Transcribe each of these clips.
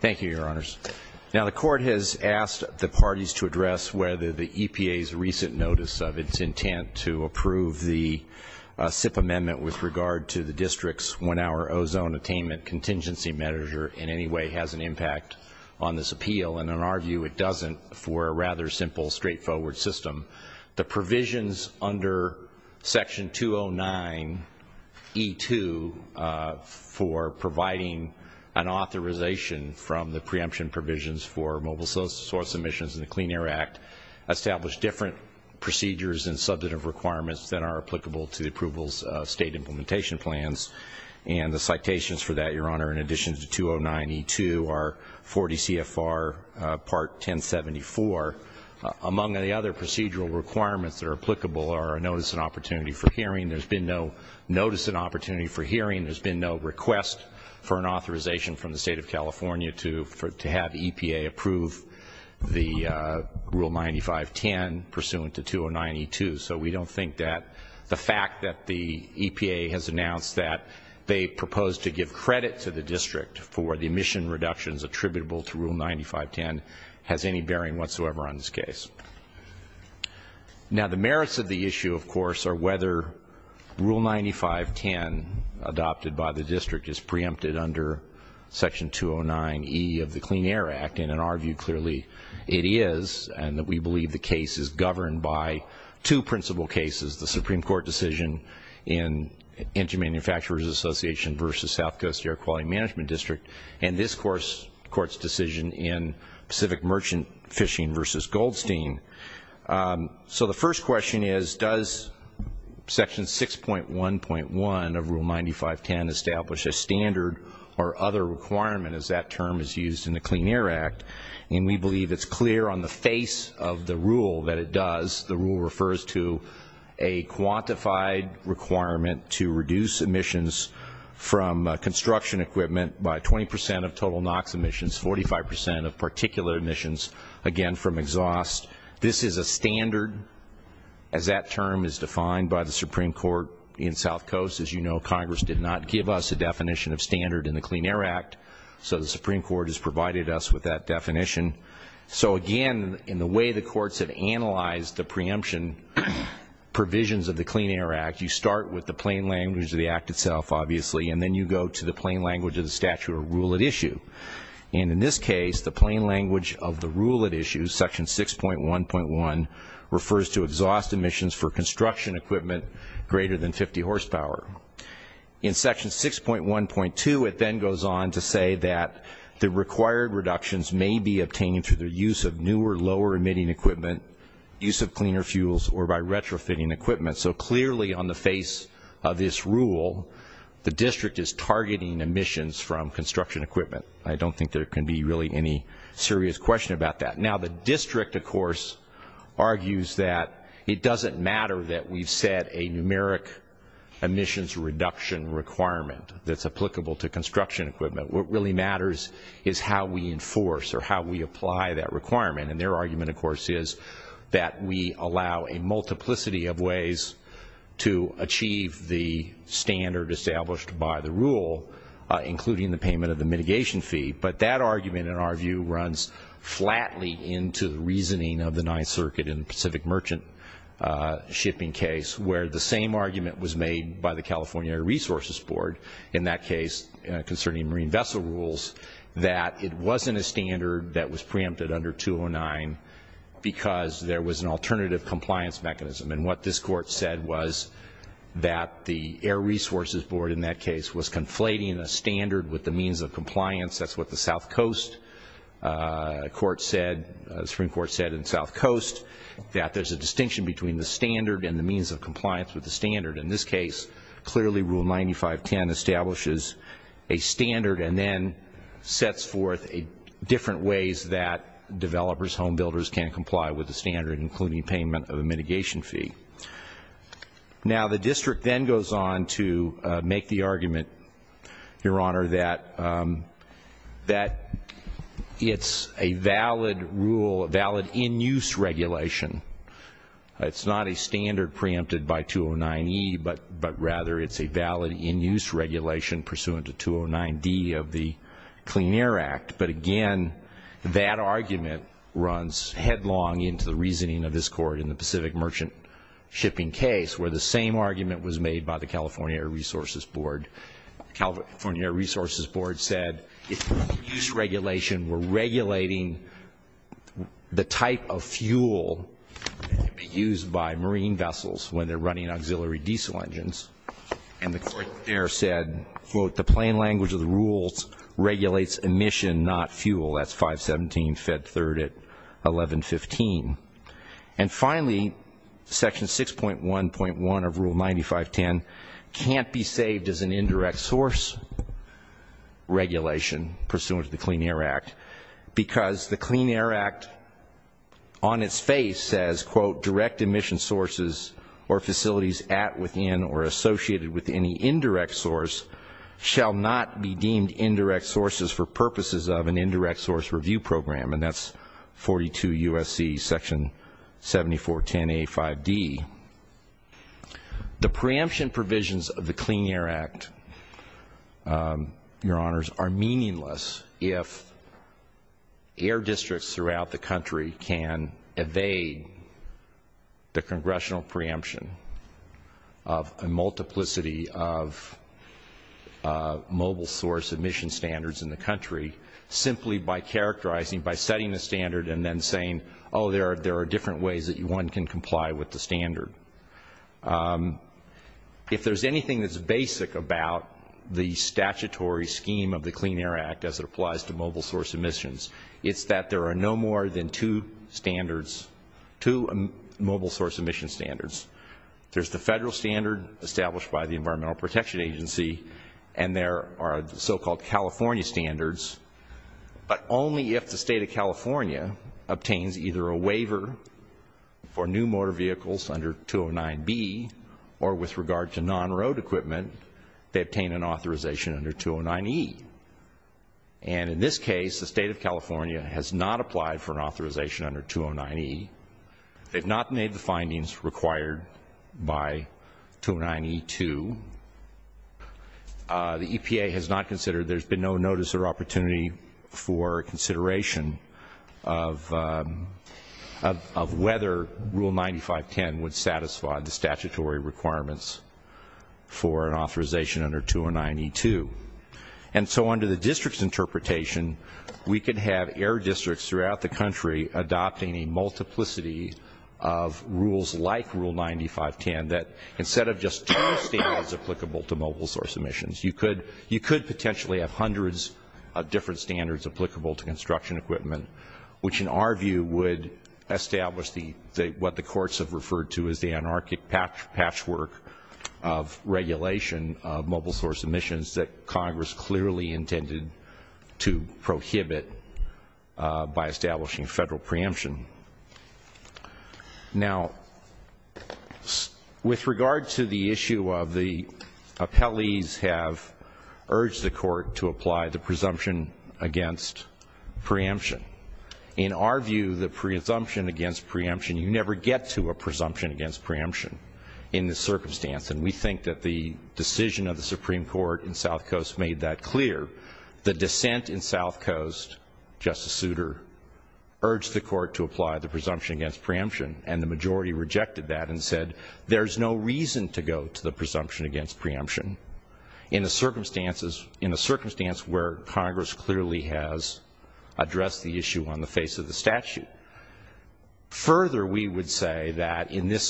Thank you, your honors. Now the court has asked the parties to address whether the EPA's recent notice of its intent to approve the SIP amendment with regard to the district's one-hour ozone attainment contingency measure in any way has an impact on this appeal, and in our view it doesn't for a rather simple straightforward system. The provisions under section 209 E2 for providing an authorization from the preemption provisions for mobile source emissions in the Clean Air Act establish different procedures and substantive requirements that are applicable to the approvals of state implementation plans, and the citations for that, your honor, in addition to 209 E2 are 40 CFR part 1074. Among the other procedural requirements that are applicable are notice and opportunity for hearing. There's been no notice and opportunity for hearing. There's been no request for an authorization from the state of California to have EPA approve the rule 9510 pursuant to 209 E2, so we don't think that the fact that the EPA has announced that they propose to give credit to the district for the emission reductions attributable to rule 9510 has any bearing whatsoever on this case. Now the merits of the issue, of course, are whether rule 9510 adopted by the district is preempted under section 209 E of the Clean Air Act, and in our view clearly it is, and that we believe the case is governed by two principal cases, the Supreme Court decision in Engine Manufacturers Association versus South Coast Air Quality Management District, and this court's decision in Pacific Merchant Fishing versus Goldstein. So the first question is does section 6.1.1 of rule 9510 establish a standard or other requirement as that term is used in the Clean Air Act, and we believe it's clear on the face of the rule that it does. The requirement to reduce emissions from construction equipment by 20 percent of total NOx emissions, 45 percent of particular emissions, again from exhaust. This is a standard as that term is defined by the Supreme Court in South Coast. As you know, Congress did not give us a definition of standard in the Clean Air Act, so the Supreme Court has provided us with that definition. So again, in the way the courts have analyzed the preemption provisions of the Clean Air Act, you start with the plain language of the act itself, obviously, and then you go to the plain language of the statute of rule at issue, and in this case the plain language of the rule at issue, section 6.1.1, refers to exhaust emissions for construction equipment greater than 50 horsepower. In section 6.1.2, it then goes on to say that the required reductions may be obtained through the use of newer lower emitting equipment, use of cleaner fuels, or by retrofitting equipment. So clearly on the face of this rule, the district is targeting emissions from construction equipment. I don't think there can be really any serious question about that. Now the district, of course, argues that it doesn't matter that we've set a numeric emissions reduction requirement that's applicable to construction equipment. What really matters is how we enforce or how we apply that requirement, and their argument, of course, is that we allow a multiplicity of ways to achieve the standard established by the rule, including the payment of the mitigation fee. But that in the Pacific merchant shipping case, where the same argument was made by the California Air Resources Board in that case concerning marine vessel rules, that it wasn't a standard that was preempted under 209 because there was an alternative compliance mechanism. And what this court said was that the Air Resources Board in that case was conflating a standard with the means of compliance. That's what the Supreme Court said in South Coast, that there's a distinction between the standard and the means of compliance with the standard. In this case, clearly rule 9510 establishes a standard and then sets forth different ways that developers, home builders, can comply with the standard, including payment of a mitigation fee. Now the district then goes on to make the that it's a valid rule, a valid in-use regulation. It's not a standard preempted by 209E, but rather it's a valid in-use regulation pursuant to 209D of the Clean Air Act. But again, that argument runs headlong into the reasoning of this court in the Pacific merchant shipping case, where the same in-use regulation were regulating the type of fuel used by marine vessels when they're running auxiliary diesel engines. And the court there said, quote, the plain language of the rules regulates emission, not fuel. That's 517 Fed 3rd at 1115. And finally, section 6.1.1 of rule 9510 can't be saved as an indirect source regulation pursuant to the Clean Air Act, because the Clean Air Act on its face says, quote, direct emission sources or facilities at, within, or associated with any indirect source shall not be deemed indirect sources for purposes of an indirect source review program. And that's 42 U.S.C. section 7410A5D. The preemption provisions of the Clean Air Act, your honors, are meaningless if air districts throughout the country can evade the congressional preemption of a multiplicity of mobile source emission standards in the country simply by characterizing, by setting the standard and then saying, oh, there are different ways that one can comply with the standard. If there's anything that's basic about the statutory scheme of the Clean Air Act as it applies to mobile source emissions, it's that there are no more than two standards, two mobile source emission standards. There's the federal standard established by the Environmental Protection Agency, and there are so-called California standards. But only if the state of California obtains either a waiver for new motor vehicles under 209B or with regard to non-road equipment, they obtain an authorization under 209E. And in this case, the state of California has not applied for an authorization under 209E. They've not made the findings required by 209E2. The EPA has not considered, there's been no notice or opportunity for consideration of whether Rule 9510 would satisfy the statutory requirements for an authorization under 209E2. And so under the district's interpretation, we could have air districts throughout the country adopting a multiplicity of rules like Rule 9510 that instead of just two standards applicable to mobile source emissions, you could potentially have hundreds of different standards applicable to construction equipment, which in our view would establish what the courts have referred to as the anarchic patchwork of regulation of mobile source emissions that Congress clearly intended to prohibit by establishing federal preemption. Now, with regard to the issue of the appellees have urged the court to apply the presumption against preemption. In our view, the presumption against preemption, you never get to a presumption against preemption in this circumstance. And we think that the decision of the Supreme Court in South Coast made that clear. The dissent in South Coast, Justice Souter, urged the court to apply the presumption against preemption and the majority rejected that and said there's no reason to go to the presumption against preemption in the circumstances, in a circumstance where Congress clearly has addressed the issue on the face of the statute. Further, we would say that in this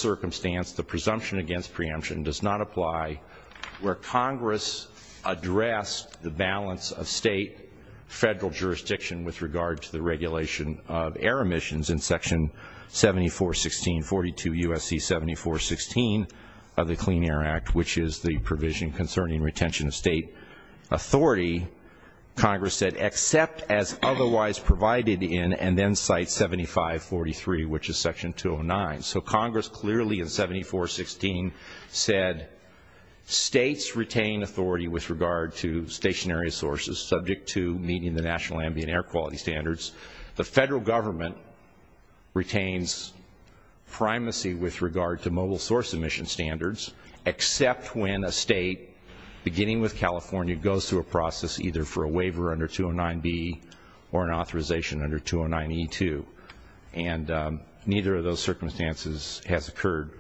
address, the balance of state, federal jurisdiction with regard to the regulation of air emissions in section 7416, 42 U.S.C. 7416 of the Clean Air Act, which is the provision concerning retention of state authority, Congress said except as otherwise provided in and then 7543, which is section 209. So Congress clearly in 7416 said states retain authority with regard to stationary sources subject to meeting the national ambient air quality standards. The federal government retains primacy with regard to mobile source emission standards, except when a state, beginning with California, goes through a process either for a waiver under section 209E2, and neither of those circumstances has occurred.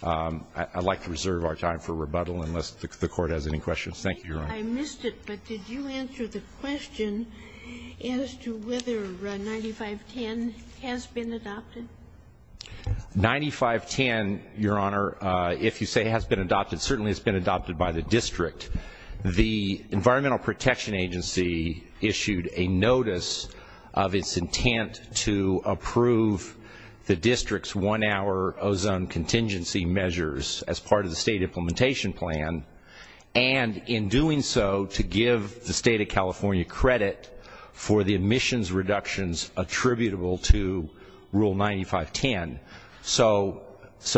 I'd like to reserve our time for rebuttal unless the Court has any questions. Thank you, Your Honor. I missed it, but did you answer the question as to whether 9510 has been adopted? 9510, Your Honor, if you say has been adopted, certainly has been adopted by the district. The Environmental Protection Agency issued a notice of its intent to approve the district's one-hour ozone contingency measures as part of the state implementation plan, and in doing so, to give the state of California credit for the emissions reductions attributable to Rule 9510. So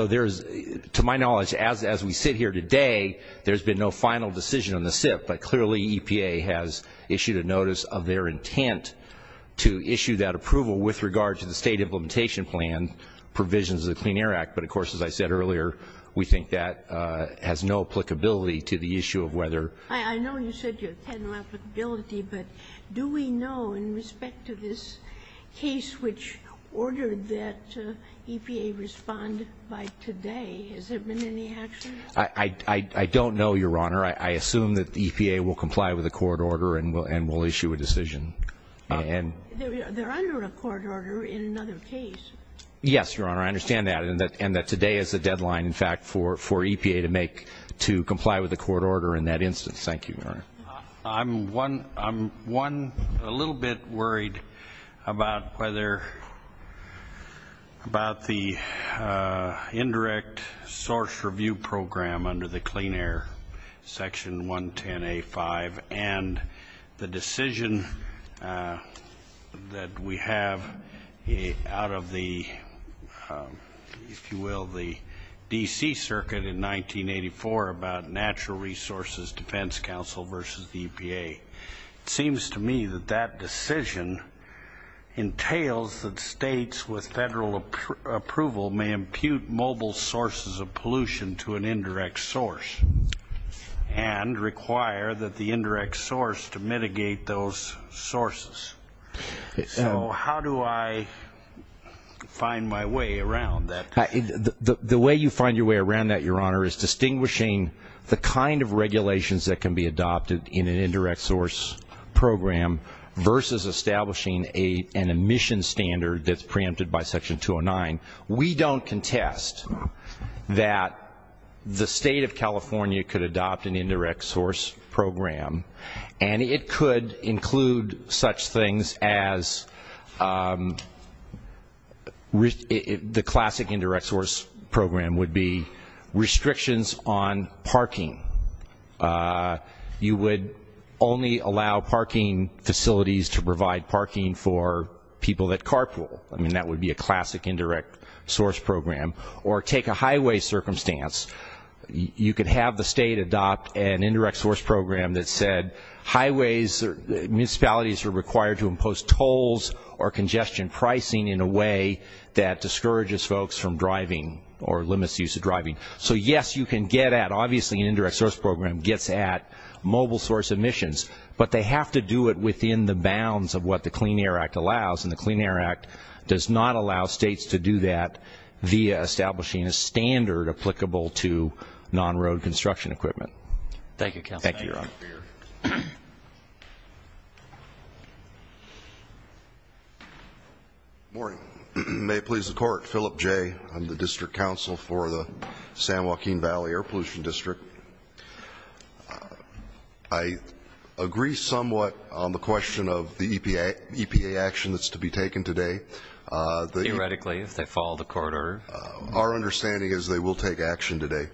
there's, to my knowledge, as we sit here today, there's been no final decision on the SIP, but clearly EPA has issued a notice of their intent to issue that approval with regard to the state implementation plan provisions of the Clean Air Act, but of course, as I said earlier, we think that has no applicability to the issue of whether I know you said you had no applicability, but do we know in respect to this case which ordered that EPA respond by today, has there been any action? I don't know, Your Honor. I assume that the EPA will comply with the court order and will issue a decision. They're under a court order in another case. Yes, Your Honor, I understand that, and that today is the deadline, in fact, for EPA to comply with the court order in that instance. Thank you, Your Honor. I'm one, a little bit worried about whether, about the indirect source review program under the Clean Air Section 110A-5 and the decision that we have out of the, if you will, the D.C. Circuit in 1984 about Natural Resources Defense Council versus the EPA. It seems to me that that decision entails that states with federal approval may impute mobile sources of pollution to an indirect source and require that the indirect source to mitigate those sources, so how do I find my way around that? The way you find your way around that, Your Honor, is distinguishing the kind of regulations that can be adopted in an indirect source program versus establishing an emission standard that's preempted by Section 209. We don't contest that the state of California could adopt an indirect source program, and it could include such things as the classic indirect source program would be restrictions on parking. You would only allow parking facilities to provide parking for people that carpool. I mean, that would be a classic indirect source program, or take a highway circumstance, you could have the state adopt an indirect source program that said highways, municipalities are required to impose tolls or congestion pricing in a way that discourages folks from driving or limits the use of driving. So yes, you can get at, obviously an indirect source program gets at mobile source emissions, but they have to do it within the bounds of what the Clean Air Act allows, and the Clean Air Act does not allow states to do that via establishing a standard applicable to non-road construction equipment. Thank you, Counselor. Good morning, Your Honor. May it please the Court, Philip Jay, I'm the District Counsel for the San Joaquin Valley Air Pollution District. I agree somewhat on the question of the EPA action that's to be taken today. Theoretically, if they follow the court order. Our understanding is they will take action today.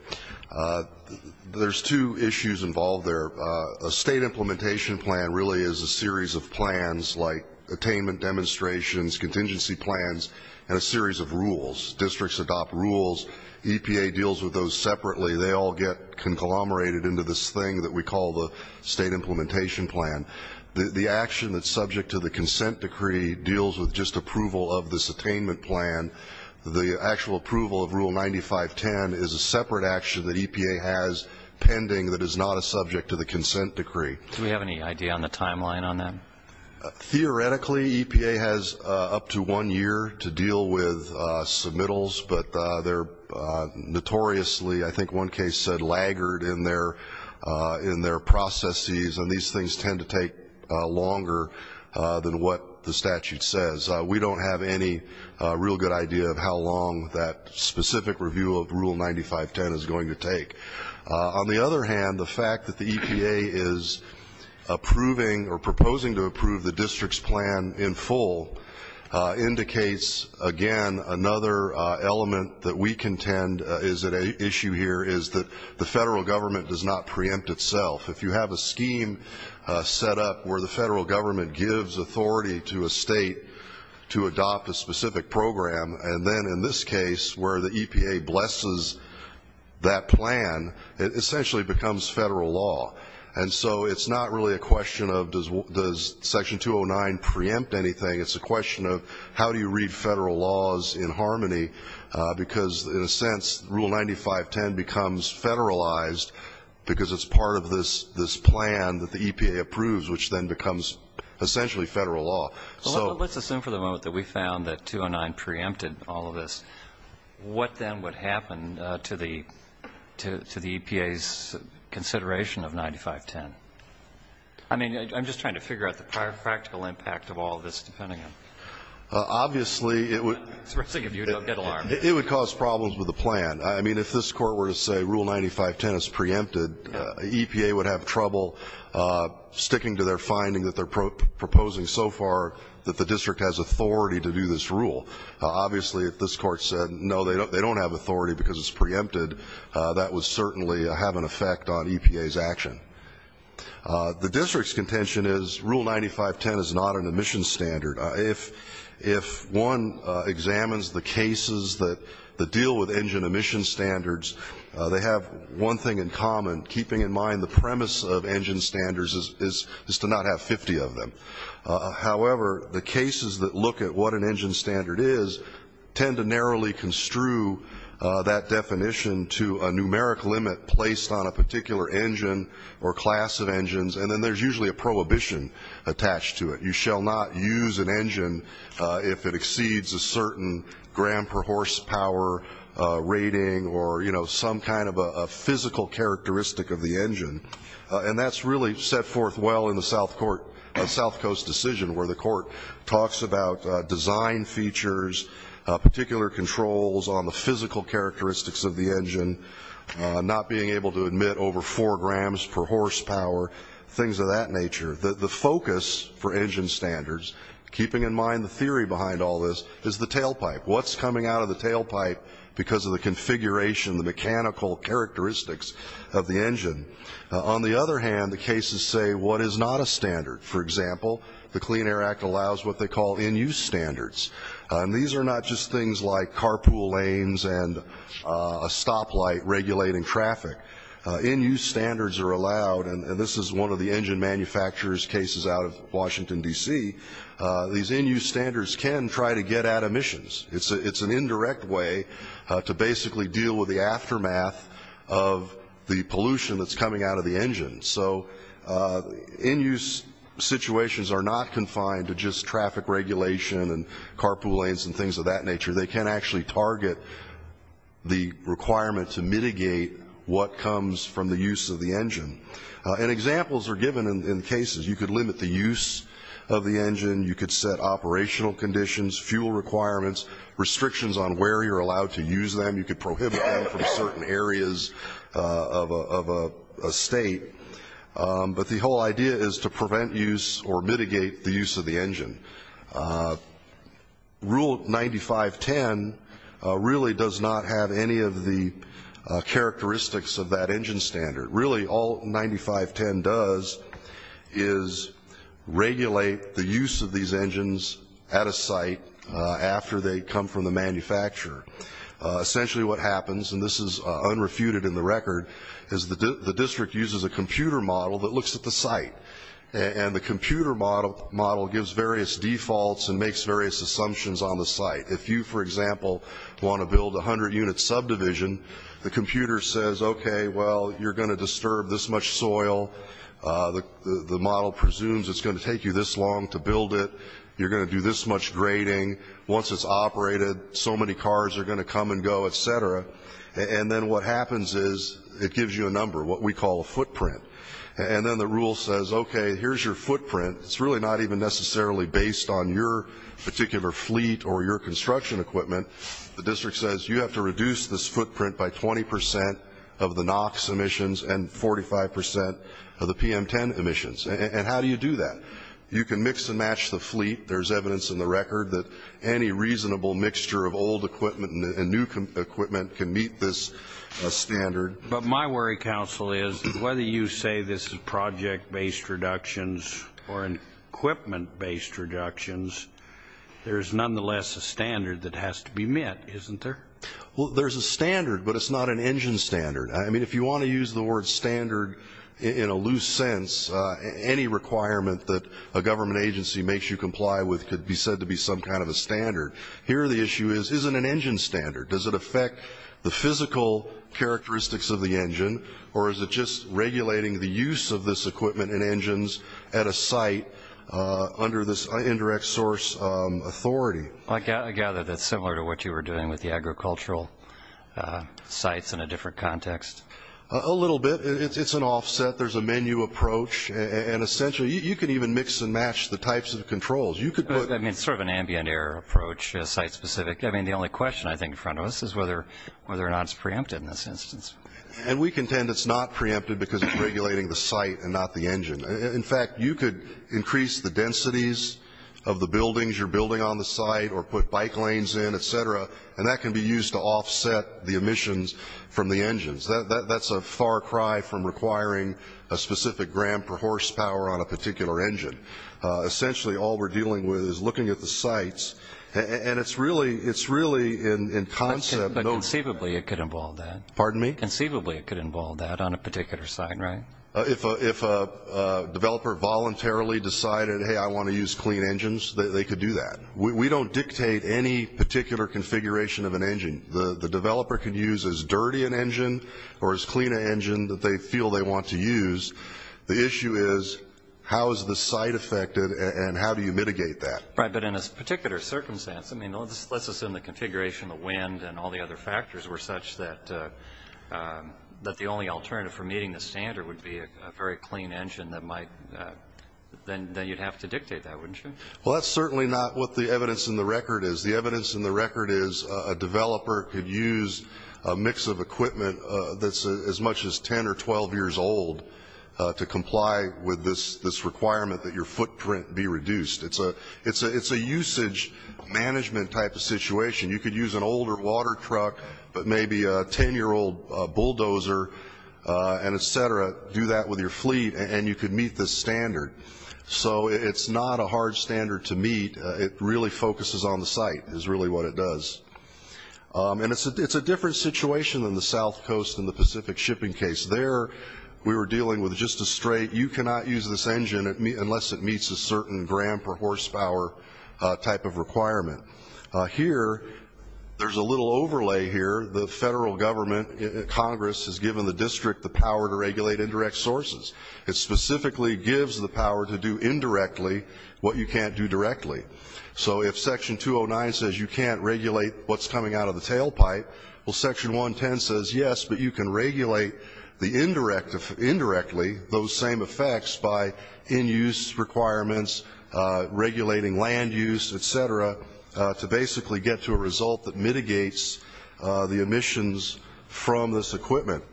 There's two issues involved there. A state implementation plan really is a series of plans like attainment demonstrations, contingency plans, and a series of rules. Districts adopt rules, EPA deals with those separately. They all get conglomerated into this thing that we call the state implementation plan. The action that's subject to the consent decree deals with just approval of this attainment plan. The actual approval of Rule 9510 is a separate action that EPA has pending that is not a subject to the consent decree. Do we have any idea on the timeline on that? Theoretically, EPA has up to one year to deal with submittals, but they're notoriously, I think one case said, laggard in their processes. And these things tend to take longer than what the statute says. We don't have any real good idea of how long that specific review of Rule 9510 is going to take. On the other hand, the fact that the EPA is approving or proposing to approve the district's plan in full indicates, again, another element that we contend is at issue here is that the federal government does not preempt itself. If you have a scheme set up where the federal government gives authority to a state to adopt a specific program, and then in this case where the EPA blesses that plan, it essentially becomes federal law. And so it's not really a question of does section 209 preempt anything? It's a question of how do you read federal laws in harmony? Because in a sense, Rule 9510 becomes federalized because it's part of this plan that the EPA approves, which then becomes essentially federal law. So- Let's assume for the moment that we found that 209 preempted all of this. What then would happen to the EPA's consideration of 9510? I mean, I'm just trying to figure out the practical impact of all this, depending on- Obviously, it would- It's for the sake of you to get alarmed. It would cause problems with the plan. I mean, if this court were to say Rule 9510 is preempted, EPA would have trouble sticking to their finding that they're proposing so far that the district has authority to do this rule. Obviously, if this court said, no, they don't have authority because it's preempted, that would certainly have an effect on EPA's action. The district's contention is Rule 9510 is not an admission standard. If one examines the cases that deal with engine emission standards, they have one thing in common, keeping in mind the premise of engine standards is to not have 50 of them. However, the cases that look at what an engine standard is tend to narrowly construe that definition to a numeric limit placed on a particular engine or class of engines. And then there's usually a prohibition attached to it. You shall not use an engine if it exceeds a certain gram per horsepower rating, or some kind of a physical characteristic of the engine. And that's really set forth well in the South Coast decision, where the court talks about design features, particular controls on the physical characteristics of the engine. Not being able to admit over four grams per horsepower, things of that nature. The focus for engine standards, keeping in mind the theory behind all this, is the tailpipe. What's coming out of the tailpipe because of the configuration, the mechanical characteristics of the engine. On the other hand, the cases say what is not a standard. For example, the Clean Air Act allows what they call in-use standards. And these are not just things like carpool lanes and a stoplight regulating traffic. In-use standards are allowed, and this is one of the engine manufacturers' cases out of Washington, DC. These in-use standards can try to get at emissions. It's an indirect way to basically deal with the aftermath of the pollution that's coming out of the engine. So in-use situations are not confined to just traffic regulation and carpool lanes and things of that nature. They can actually target the requirement to mitigate what comes from the use of the engine. And examples are given in cases. You could limit the use of the engine. You could set operational conditions, fuel requirements, restrictions on where you're allowed to use them. You could prohibit them from certain areas of a state. But the whole idea is to prevent use or mitigate the use of the engine. Rule 9510 really does not have any of the characteristics of that engine standard. Really, all 9510 does is regulate the use of these engines at a site after they come from the manufacturer. Essentially what happens, and this is unrefuted in the record, is the district uses a computer model that looks at the site. And the computer model gives various defaults and makes various assumptions on the site. If you, for example, want to build a 100-unit subdivision, the computer says, okay, well, you're going to disturb this much soil. The model presumes it's going to take you this long to build it. You're going to do this much grading. Once it's operated, so many cars are going to come and go, etc. And then what happens is it gives you a number, what we call a footprint. And then the rule says, okay, here's your footprint. It's really not even necessarily based on your particular fleet or your construction equipment. The district says, you have to reduce this footprint by 20% of the NOx emissions and 45% of the PM10 emissions. And how do you do that? You can mix and match the fleet. There's evidence in the record that any reasonable mixture of old equipment and new equipment can meet this standard. But my worry, counsel, is whether you say this is project-based reductions or equipment-based reductions, there's nonetheless a standard that has to be met, isn't there? Well, there's a standard, but it's not an engine standard. I mean, if you want to use the word standard in a loose sense, any requirement that a government agency makes you comply with could be said to be some kind of a standard. Here, the issue is, is it an engine standard? Does it affect the physical characteristics of the engine? Or is it just regulating the use of this equipment and engines at a site under this indirect source authority? I gather that's similar to what you were doing with the agricultural sites in a different context. A little bit. It's an offset. There's a menu approach. And essentially, you can even mix and match the types of controls. You could put- I mean, it's sort of an ambient air approach, site-specific. I mean, the only question, I think, in front of us is whether or not it's preempted in this instance. And we contend it's not preempted because it's regulating the site and not the engine. In fact, you could increase the densities of the buildings you're building on the site or put bike lanes in, et cetera. And that can be used to offset the emissions from the engines. That's a far cry from requiring a specific gram per horsepower on a particular engine. Essentially, all we're dealing with is looking at the sites. And it's really in concept- But conceivably, it could involve that. Pardon me? Conceivably, it could involve that on a particular site, right? If a developer voluntarily decided, hey, I want to use clean engines, they could do that. We don't dictate any particular configuration of an engine. The developer could use as dirty an engine or as clean an engine that they feel they want to use. The issue is how is the site affected and how do you mitigate that? Right, but in this particular circumstance, I mean, let's assume the configuration, the wind, and all the other factors were such that the only alternative for meeting the standard would be a very clean engine that might, then you'd have to dictate that, wouldn't you? Well, that's certainly not what the evidence in the record is. The evidence in the record is a developer could use a mix of equipment that's as much as 10 or 12 years old to comply with this requirement that your footprint be reduced. It's a usage management type of situation. You could use an older water truck, but maybe a 10-year-old bulldozer, and et cetera. Do that with your fleet, and you could meet this standard. So it's not a hard standard to meet. It really focuses on the site, is really what it does. And it's a different situation than the South Coast and the Pacific shipping case. There, we were dealing with just a straight, you cannot use this engine unless it meets a certain gram per horsepower type of requirement. Here, there's a little overlay here. The federal government, Congress, has given the district the power to regulate indirect sources. It specifically gives the power to do indirectly what you can't do directly. So if section 209 says you can't regulate what's coming out of the tailpipe, well section 110 says yes, but you can regulate indirectly those same effects by in-use requirements, regulating land use, et cetera, to basically get to a result that mitigates the emissions from this equipment.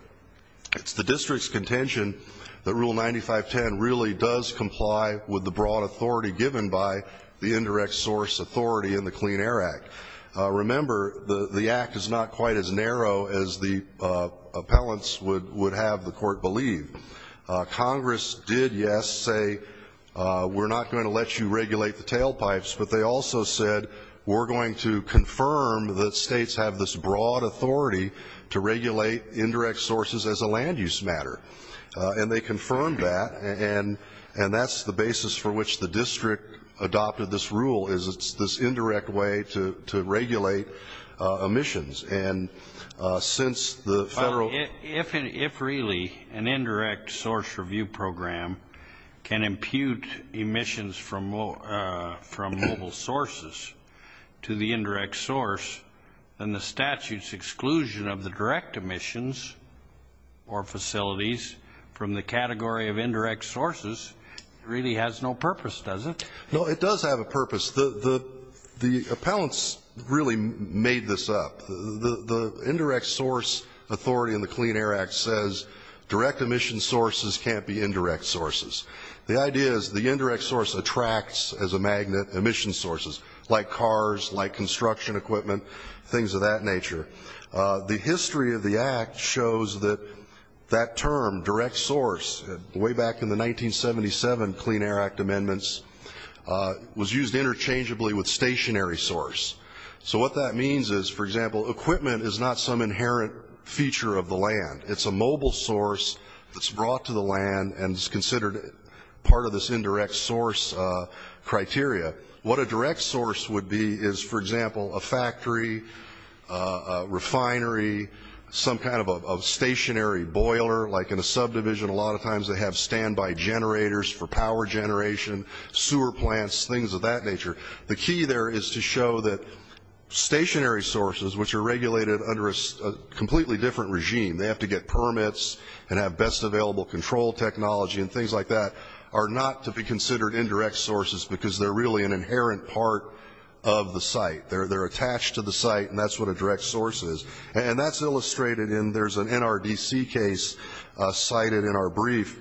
It's the district's contention that Rule 9510 really does comply with the broad authority given by the indirect source authority in the Clean Air Act. Remember, the act is not quite as narrow as the appellants would have the court believe. Congress did, yes, say, we're not going to let you regulate the tailpipes, but they also said, we're going to confirm that states have this broad authority to regulate indirect sources as a land use matter. And they confirmed that, and that's the basis for which the district adopted this rule, is it's this indirect way to regulate emissions. And since the federal- If really, an indirect source review program can impute emissions from mobile sources to the indirect source, then the statute's exclusion of the direct emissions or purpose doesn't. No, it does have a purpose. The appellants really made this up. The indirect source authority in the Clean Air Act says direct emission sources can't be indirect sources. The idea is the indirect source attracts, as a magnet, emission sources, like cars, like construction equipment, things of that nature. The history of the act shows that that term, direct source, way back in the 1977 Clean Air Act amendments, was used interchangeably with stationary source. So what that means is, for example, equipment is not some inherent feature of the land. It's a mobile source that's brought to the land and is considered part of this indirect source criteria. What a direct source would be is, for example, a factory, a refinery, some kind of a stationary boiler, like in a subdivision. A lot of times they have standby generators for power generation, sewer plants, things of that nature. The key there is to show that stationary sources, which are regulated under a completely different regime, they have to get permits and have best available control technology and things like that, are not to be considered indirect sources because they're really an inherent part of the site. They're attached to the site, and that's what a direct source is. And that's illustrated in, there's an NRDC case cited in our brief,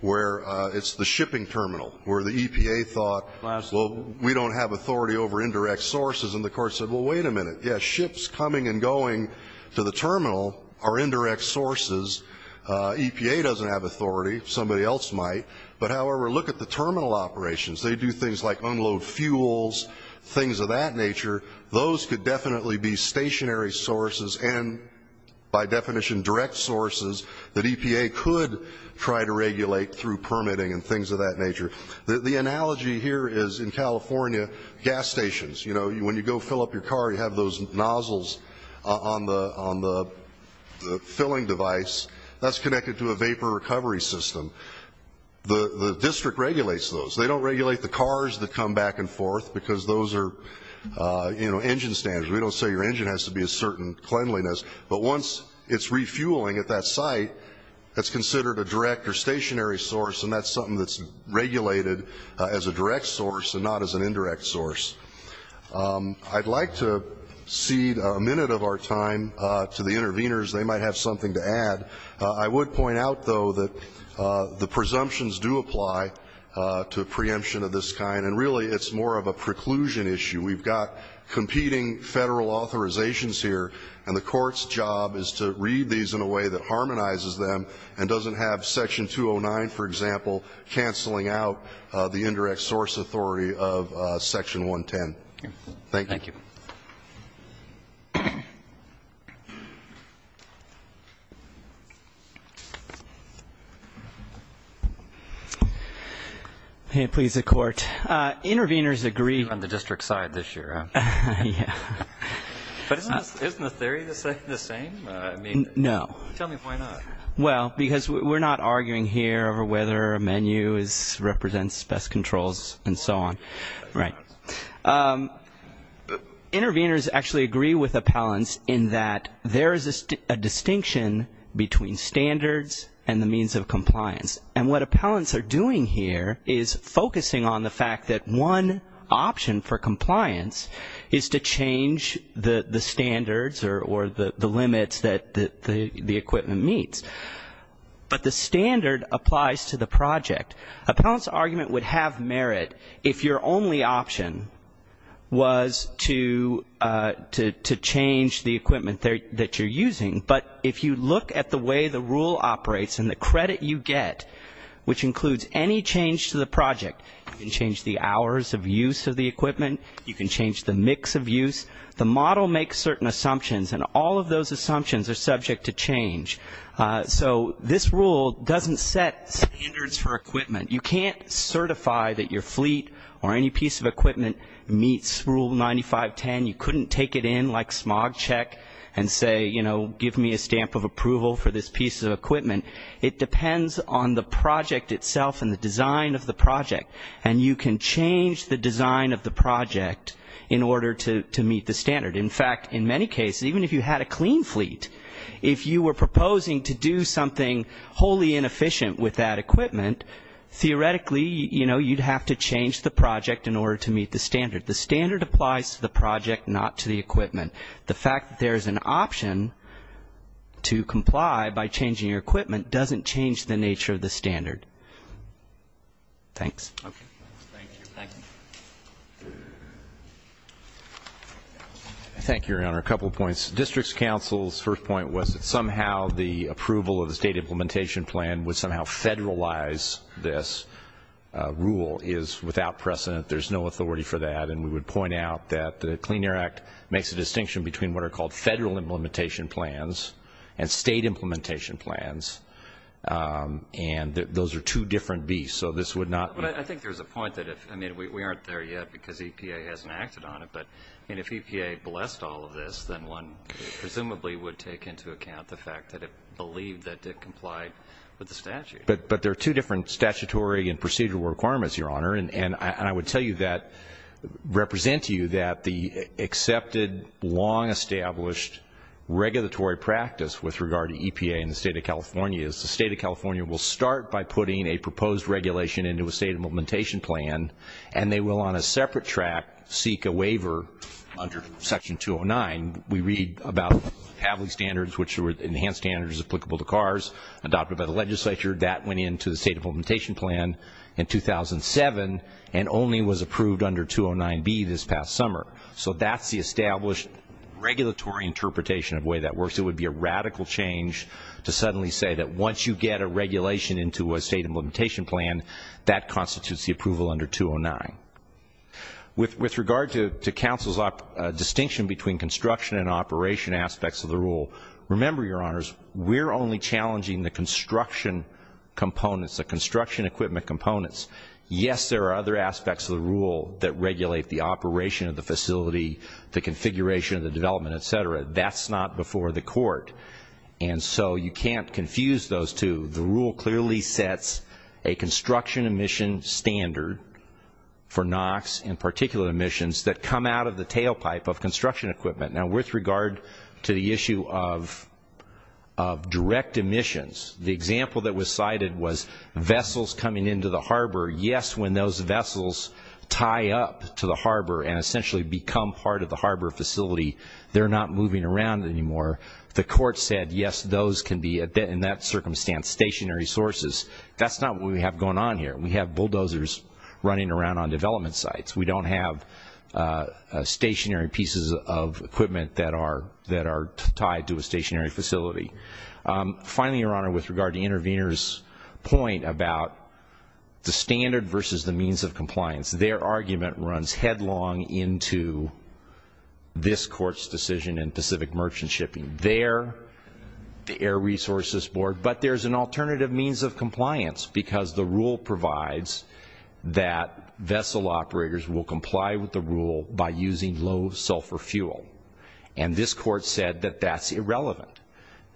where it's the shipping terminal, where the EPA thought, well, we don't have authority over indirect sources, and the court said, well, wait a minute. Yeah, ships coming and going to the terminal are indirect sources. EPA doesn't have authority, somebody else might. But however, look at the terminal operations. They do things like unload fuels, things of that nature. Those could definitely be stationary sources and, by definition, direct sources that EPA could try to regulate through permitting and things of that nature. The analogy here is, in California, gas stations. You know, when you go fill up your car, you have those nozzles on the filling device. That's connected to a vapor recovery system. The district regulates those. They don't regulate the cars that come back and forth, because those are, you know, engine stands. We don't say your engine has to be a certain cleanliness. But once it's refueling at that site, that's considered a direct or stationary source, and that's something that's regulated as a direct source and not as an indirect source. I'd like to cede a minute of our time to the interveners. They might have something to add. I would point out, though, that the presumptions do apply to a preemption of this kind, and really it's more of a preclusion issue. We've got competing federal authorizations here, and the court's job is to read these in a way that harmonizes them and doesn't have section 209, for example, canceling out the indirect source authority of section 110. Thank you. Okay, please, the court. Interveners agree- On the district side this year, huh? Yeah. But isn't the theory the same? No. Tell me why not. Well, because we're not arguing here over whether a menu represents best controls and so on. Right. Interveners actually agree with appellants in that there is a distinction between standards and the means of compliance, and what appellants are doing here is focusing on the fact that one option for compliance is to change the standards or the limits that the equipment meets, but the standard applies to the project. Appellant's argument would have merit if your only option was to change the equipment that you're using, but if you look at the way the rule operates and the credit you get, which includes any change to the project, you can change the hours of use of the equipment, you can change the mix of use, the model makes certain assumptions, and all of those assumptions are subject to change. So this rule doesn't set standards for equipment. You can't certify that your fleet or any piece of equipment meets Rule 9510. You couldn't take it in like smog check and say, you know, give me a stamp of approval for this piece of equipment. It depends on the project itself and the design of the project, and you can change the design of the project in order to meet the standard. In fact, in many cases, even if you had a clean fleet, if you were proposing to do something wholly inefficient with that equipment, theoretically, you know, you'd have to change the project in order to meet the standard. The standard applies to the project, not to the equipment. The fact that there's an option to comply by changing your equipment doesn't change the nature of the standard. Thanks. Okay, thank you. Thank you. Thank you, Your Honor. A couple of points. District's counsel's first point was that somehow the approval of the state implementation plan would somehow federalize this rule is without precedent. There's no authority for that. And we would point out that the Clean Air Act makes a distinction between what are called federal implementation plans and state implementation plans. And those are two different beasts, so this would not- But I think there's a point that if, I mean, we aren't there yet because EPA hasn't acted on it. But, I mean, if EPA blessed all of this, then one presumably would take into account the fact that it believed that it complied with the statute. But there are two different statutory and procedural requirements, Your Honor. And I would tell you that, represent to you that the accepted, long-established regulatory practice with regard to EPA in the State of California is the State of California will start by putting a proposed regulation into a state implementation plan. And they will, on a separate track, seek a waiver under section 209. We read about Pavley standards, which were enhanced standards applicable to cars adopted by the legislature. That went into the state implementation plan in 2007 and only was approved under 209B this past summer. So that's the established regulatory interpretation of the way that works. It would be a radical change to suddenly say that once you get a regulation into a state implementation plan, that constitutes the approval under 209. With regard to council's distinction between construction and operation aspects of the rule, remember, Your Honors, we're only challenging the construction components, the construction equipment components. Yes, there are other aspects of the rule that regulate the operation of the facility, the configuration of the development, etc. That's not before the court. And so you can't confuse those two. The rule clearly sets a construction emission standard for NOx and particular emissions that come out of the tailpipe of construction equipment. Now with regard to the issue of direct emissions, the example that was cited was vessels coming into the harbor. Yes, when those vessels tie up to the harbor and essentially become part of the harbor facility, they're not moving around anymore. The court said, yes, those can be, in that circumstance, stationary sources. That's not what we have going on here. We have bulldozers running around on development sites. We don't have stationary pieces of equipment that are tied to a stationary facility. Finally, Your Honor, with regard to intervener's point about the standard versus the means of compliance. Their argument runs headlong into this court's decision in Pacific Merchant Shipping. They're the Air Resources Board, but there's an alternative means of compliance. Because the rule provides that vessel operators will comply with the rule by using low sulfur fuel. And this court said that that's irrelevant,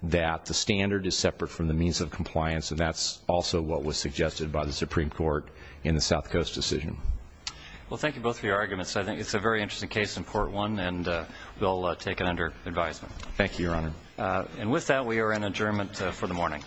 that the standard is separate from the means of compliance. And that's also what was suggested by the Supreme Court in the South Coast decision. Well, thank you both for your arguments. I think it's a very interesting case in part one, and we'll take it under advisement. Thank you, Your Honor. And with that, we are in adjournment for the morning.